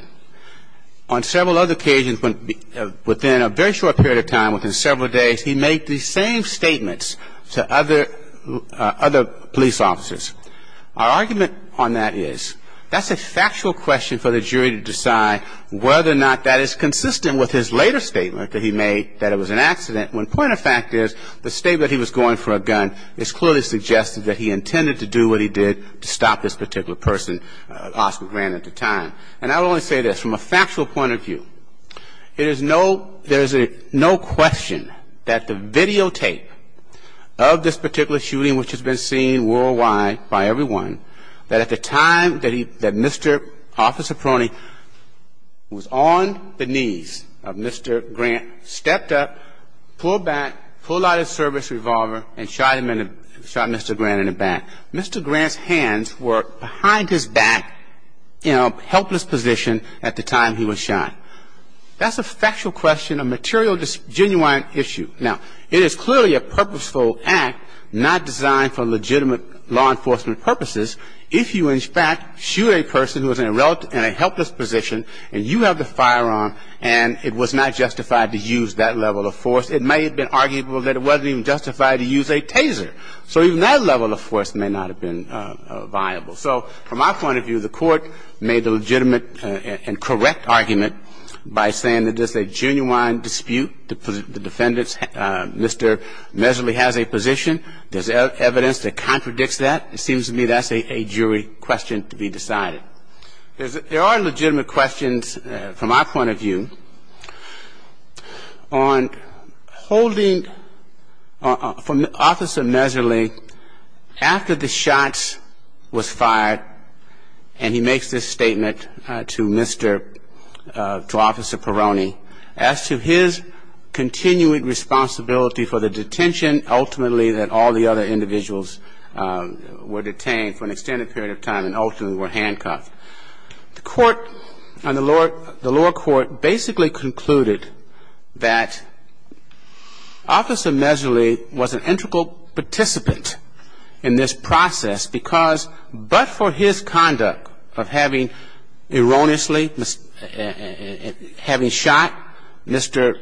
On several other occasions within a very short period of time, within several days, he made the same statements to other police officers. Our argument on that is that's a factual question for the jury to decide whether or not that is consistent with his later statement that he made that it was an accident when point of fact is the statement he was going for a gun is clearly suggesting that he intended to do what he did to stop this particular person, Oscar Grant, at the time. And I will only say this from a factual point of view. There is no question that the videotape of this particular shooting, which has been seen worldwide by everyone, that at the time that Mr. Officer Perrone was on the knees of Mr. Grant, stepped up, pulled back, pulled out his service revolver, and shot Mr. Grant in the back. Mr. Grant's hands were behind his back in a helpless position at the time he was shot. That's a factual question, a material genuine issue. Now, it is clearly a purposeful act not designed for legitimate law enforcement purposes if you in fact shoot a person who is in a helpless position and you have the firearm and it was not justified to use that level of force. It may have been arguable that it wasn't even justified to use a taser. So even that level of force may not have been viable. So from my point of view, the Court made the legitimate and correct argument by saying that this is a genuine dispute. The defendant, Mr. Mesley, has a position. There's evidence that contradicts that. It seems to me that's a jury question to be decided. There are legitimate questions, from my point of view, on holding Officer Mesley, after the shot was fired, and he makes this statement to Mr. – to Officer Peroni, as to his continuing responsibility for the detention, ultimately, that all the other individuals were detained for an extended period of time and ultimately were handcuffed. The Court, the lower court, basically concluded that Officer Mesley was an integral participant in this process because, but for his conduct of having erroneously – having shot Mr.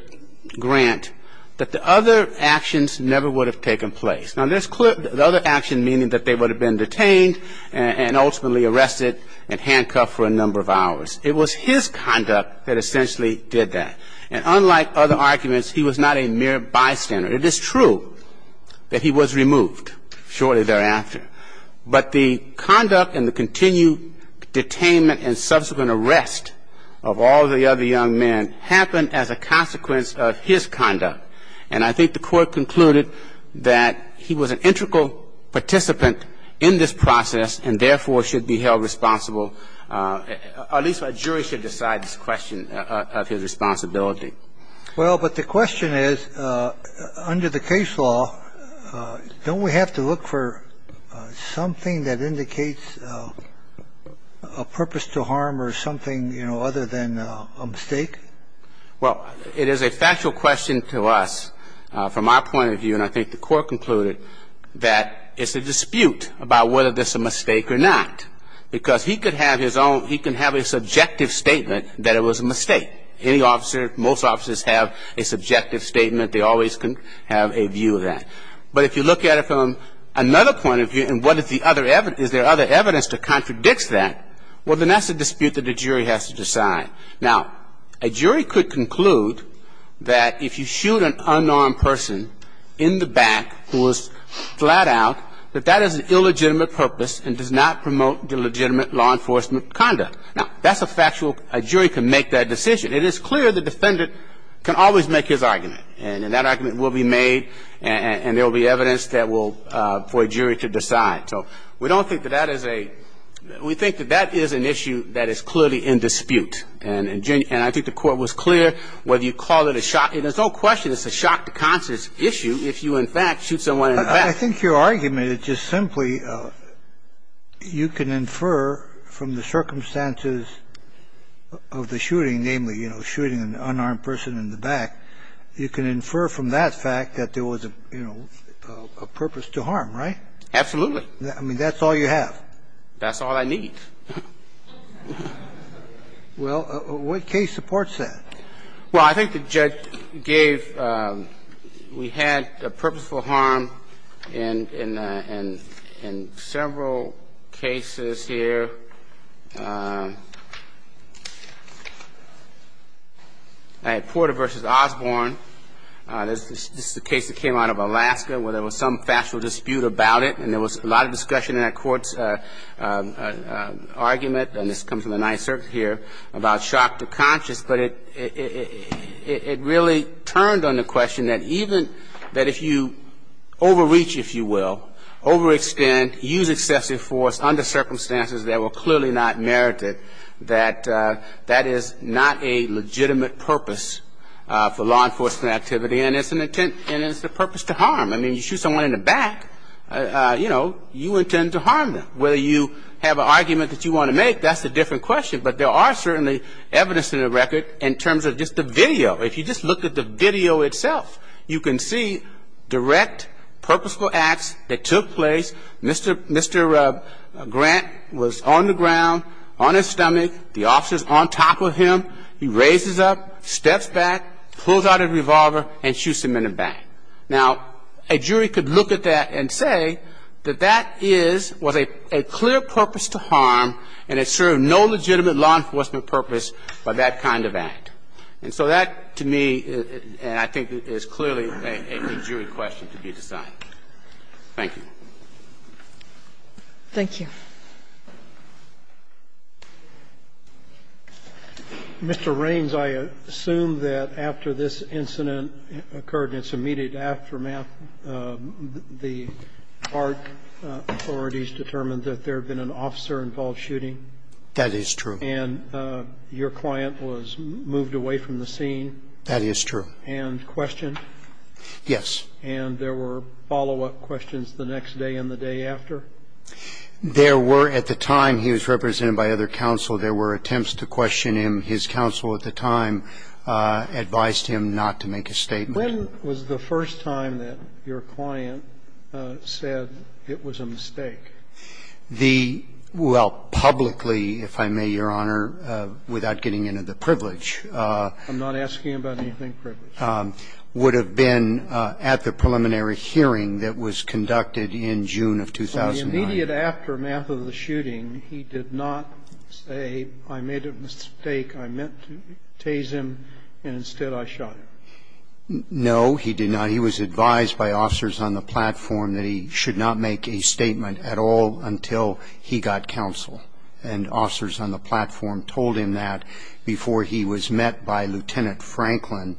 Grant, that the other actions never would have taken place. Now, the other action meaning that they would have been detained and ultimately arrested and handcuffed for a number of hours. It was his conduct that essentially did that. And unlike other arguments, he was not a mere bystander. It is true that he was removed shortly thereafter. But the conduct and the continued detainment and subsequent arrest of all the other young men happened as a consequence of his conduct. And I think the Court concluded that he was an integral participant in this process and, therefore, should be held responsible, or at least a jury should decide this question of his responsibility. Well, but the question is, under the case law, don't we have to look for something that indicates a purpose to harm or something, you know, other than a mistake? Well, it is a factual question to us from our point of view, and I think the Court concluded that it's a dispute about whether this is a mistake or not. Because he could have his own – he can have a subjective statement that it was a mistake. Any officer, most officers have a subjective statement. They always can have a view of that. But if you look at it from another point of view, and what is the other – is there other evidence that contradicts that, well, then that's a dispute that the jury has to decide. Now, a jury could conclude that if you shoot an unarmed person in the back who is flat out, that that is an illegitimate purpose and does not promote the legitimate law enforcement conduct. Now, that's a factual – a jury can make that decision. It is clear the defendant can always make his argument, and that argument will be made and there will be evidence that will – for a jury to decide. So we don't think that that is a – we think that that is an issue that is clearly in dispute. And I think the Court was clear whether you call it a – there's no question it's a shock to conscience issue if you, in fact, shoot someone in the back. I think your argument is just simply you can infer from the circumstances of the shooting, namely, you know, shooting an unarmed person in the back, you can infer from that. The only way you can do that is to say, you know, there was a purpose to harm, right? Absolutely. I mean, that's all you have. That's all I need. Well, what case supports that? Well, I think the judge gave we had a purposeful harm in several cases here. I had Porter v. Osborne. This is a case that came out of Alaska where there was some factual dispute about it, and there was a lot of discussion in that court's argument, and this comes from the Ninth Circuit here about shock to conscience, but it really turned on the question that even if you overreach, if you will, overextend, use excessive force under circumstances that were clearly not merited, that that is not a legitimate purpose for law enforcement activity, and it's the purpose to harm. I mean, you shoot someone in the back, you know, you intend to harm them. Whether you have an argument that you want to make, that's a different question, but there are certainly evidence in the record in terms of just the video. If you just look at the video itself, you can see direct purposeful acts that took place. Mr. Grant was on the ground on his stomach. The officer's on top of him. He raises up, steps back, pulls out a revolver, and shoots him in the back. Now, a jury could look at that and say that that is, was a clear purpose to harm, and it served no legitimate law enforcement purpose by that kind of act. And so that, to me, I think is clearly a jury question to be decided. Thank you. Thank you. Mr. Raines, I assume that after this incident occurred in its immediate aftermath, the park authorities determined that there had been an officer-involved shooting. That is true. And your client was moved away from the scene. That is true. And questioned? Yes. And there were follow-up questions the next day and the day after? There were. At the time, he was represented by other counsel. There were attempts to question him. His counsel at the time advised him not to make a statement. When was the first time that your client said it was a mistake? The – well, publicly, if I may, Your Honor, without getting into the privilege. I'm not asking about anything privileged. Would have been at the preliminary hearing that was conducted in June of 2007. In the immediate aftermath of the shooting, he did not say, I made a mistake, I meant to tase him, and instead I shot him? No, he did not. He was advised by officers on the platform that he should not make a statement at all until he got counsel. And officers on the platform told him that before he was met by Lieutenant Franklin,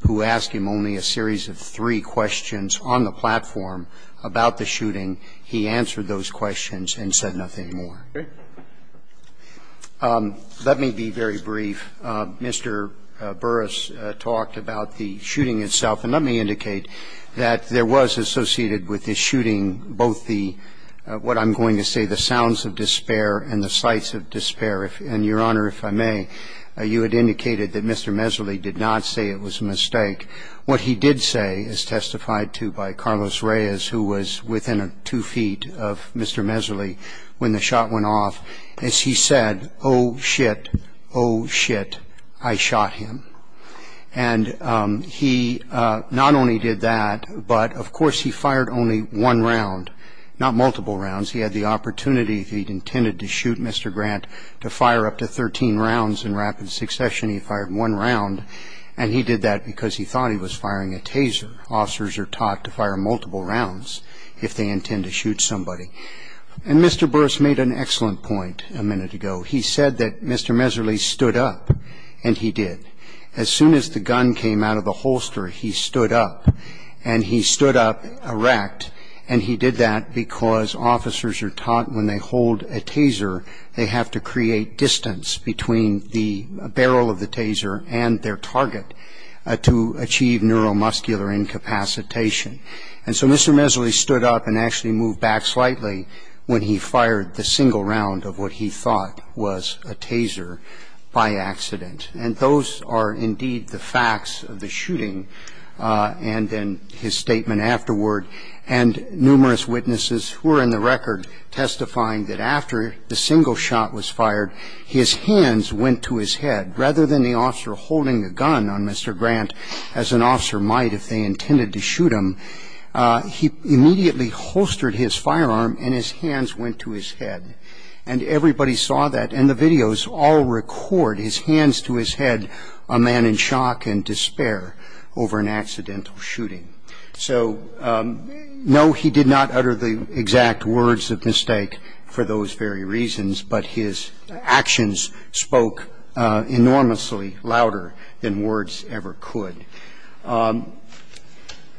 who asked him only a series of three questions on the platform about the shooting, he answered those questions and said nothing more. Let me be very brief. Mr. Burris talked about the shooting itself. And let me indicate that there was associated with the shooting both the – what I'm going to say, the sounds of despair and the sights of despair. And, Your Honor, if I may, you had indicated that Mr. Meserly did not say it was a mistake. What he did say, as testified to by Carlos Reyes, who was within two feet of Mr. Meserly when the shot went off, is he said, oh, shit, oh, shit, I shot him. And he not only did that, but, of course, he fired only one round, not multiple rounds. He had the opportunity, if he intended to shoot Mr. Grant, to fire up to 13 rounds in rapid succession. He fired one round, and he did that because he thought he was firing a taser. Officers are taught to fire multiple rounds if they intend to shoot somebody. And Mr. Burris made an excellent point a minute ago. He said that Mr. Meserly stood up, and he did. As soon as the gun came out of the holster, he stood up. And he stood up erect, and he did that because officers are taught when they target to achieve neuromuscular incapacitation. And so Mr. Meserly stood up and actually moved back slightly when he fired the single round of what he thought was a taser by accident. And those are indeed the facts of the shooting and then his statement afterward. And numerous witnesses were in the record testifying that after the single shot was fired, his hands went to his head. Rather than the officer holding the gun on Mr. Grant, as an officer might if they intended to shoot him, he immediately holstered his firearm and his hands went to his head. And everybody saw that, and the videos all record his hands to his head, a man in shock and despair over an accidental shooting. So, no, he did not utter the exact words of mistake for those very reasons. But his actions spoke enormously louder than words ever could.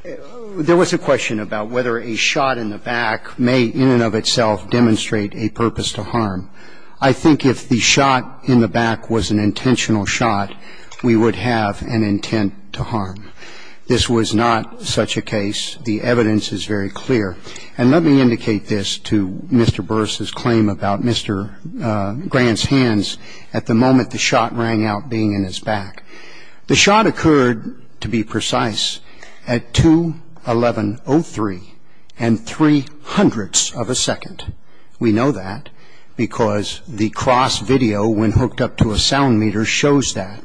There was a question about whether a shot in the back may in and of itself demonstrate a purpose to harm. I think if the shot in the back was an intentional shot, we would have an intent to harm. This was not such a case. The evidence is very clear. And let me indicate this to Mr. Burris's claim about Mr. Grant's hands at the moment the shot rang out being in his back. The shot occurred, to be precise, at 2-11-03 and three hundredths of a second. We know that because the cross video, when hooked up to a sound meter, shows that.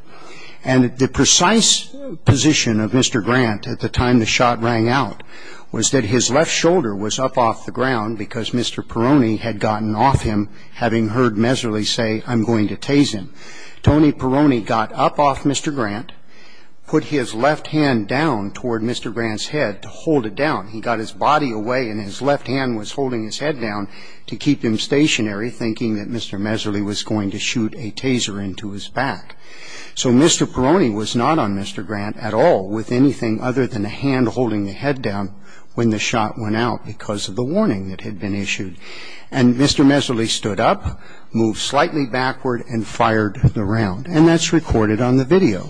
And the precise position of Mr. Grant at the time the shot rang out was that his left shoulder was up off the ground because Mr. Perroni had gotten off him, having heard Meserly say, I'm going to tase him. Tony Perroni got up off Mr. Grant, put his left hand down toward Mr. Grant's head to hold it down. He got his body away and his left hand was holding his head down to keep him stationary, thinking that Mr. Meserly was going to shoot a taser into his back. So Mr. Perroni was not on Mr. Grant at all with anything other than a hand holding the head down when the shot went out because of the warning that had been issued. And Mr. Meserly stood up, moved slightly backward and fired the round. And that's recorded on the video.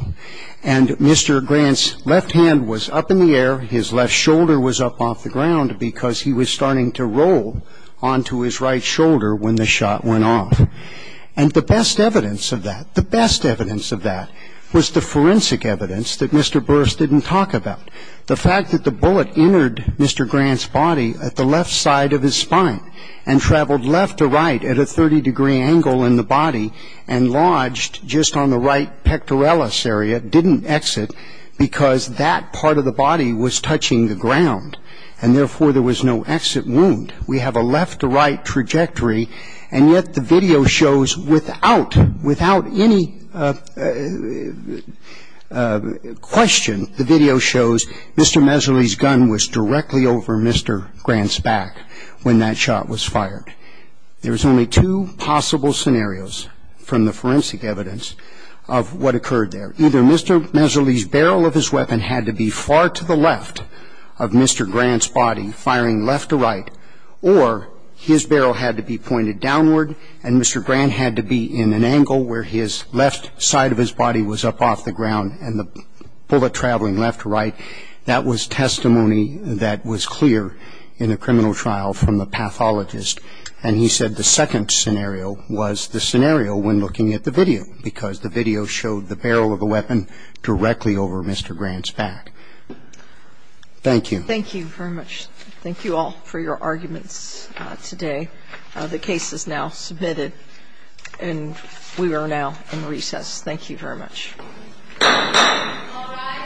And Mr. Grant's left hand was up in the air, his left shoulder was up off the ground because he was starting to roll onto his right shoulder when the shot went off. And the best evidence of that, the best evidence of that was the forensic evidence that Mr. Burris didn't talk about. The fact that the bullet entered Mr. Grant's body at the left side of his spine and traveled left to right at a 30-degree angle in the body and lodged just on the right pectoralis area didn't exit because that part of the body was touching the ground. And therefore, there was no exit wound. We have a left-to-right trajectory. And yet the video shows without any question, the video shows Mr. Meserly's gun was directly over Mr. Grant's back when that shot was fired. There was only two possible scenarios from the forensic evidence of what occurred there. Either Mr. Meserly's barrel of his weapon had to be far to the left of Mr. Grant's body, firing left to right, or his barrel had to be pointed downward and Mr. Grant had to be in an angle where his left side of his body was up off the ground and the bullet traveling left to right. That was testimony that was clear in the criminal trial from the pathologist. And he said the second scenario was the scenario when looking at the video because the video showed the barrel of the weapon directly over Mr. Grant's back. Thank you. Thank you very much. Thank you all for your arguments today. The case is now submitted and we are now in recess. Thank you very much.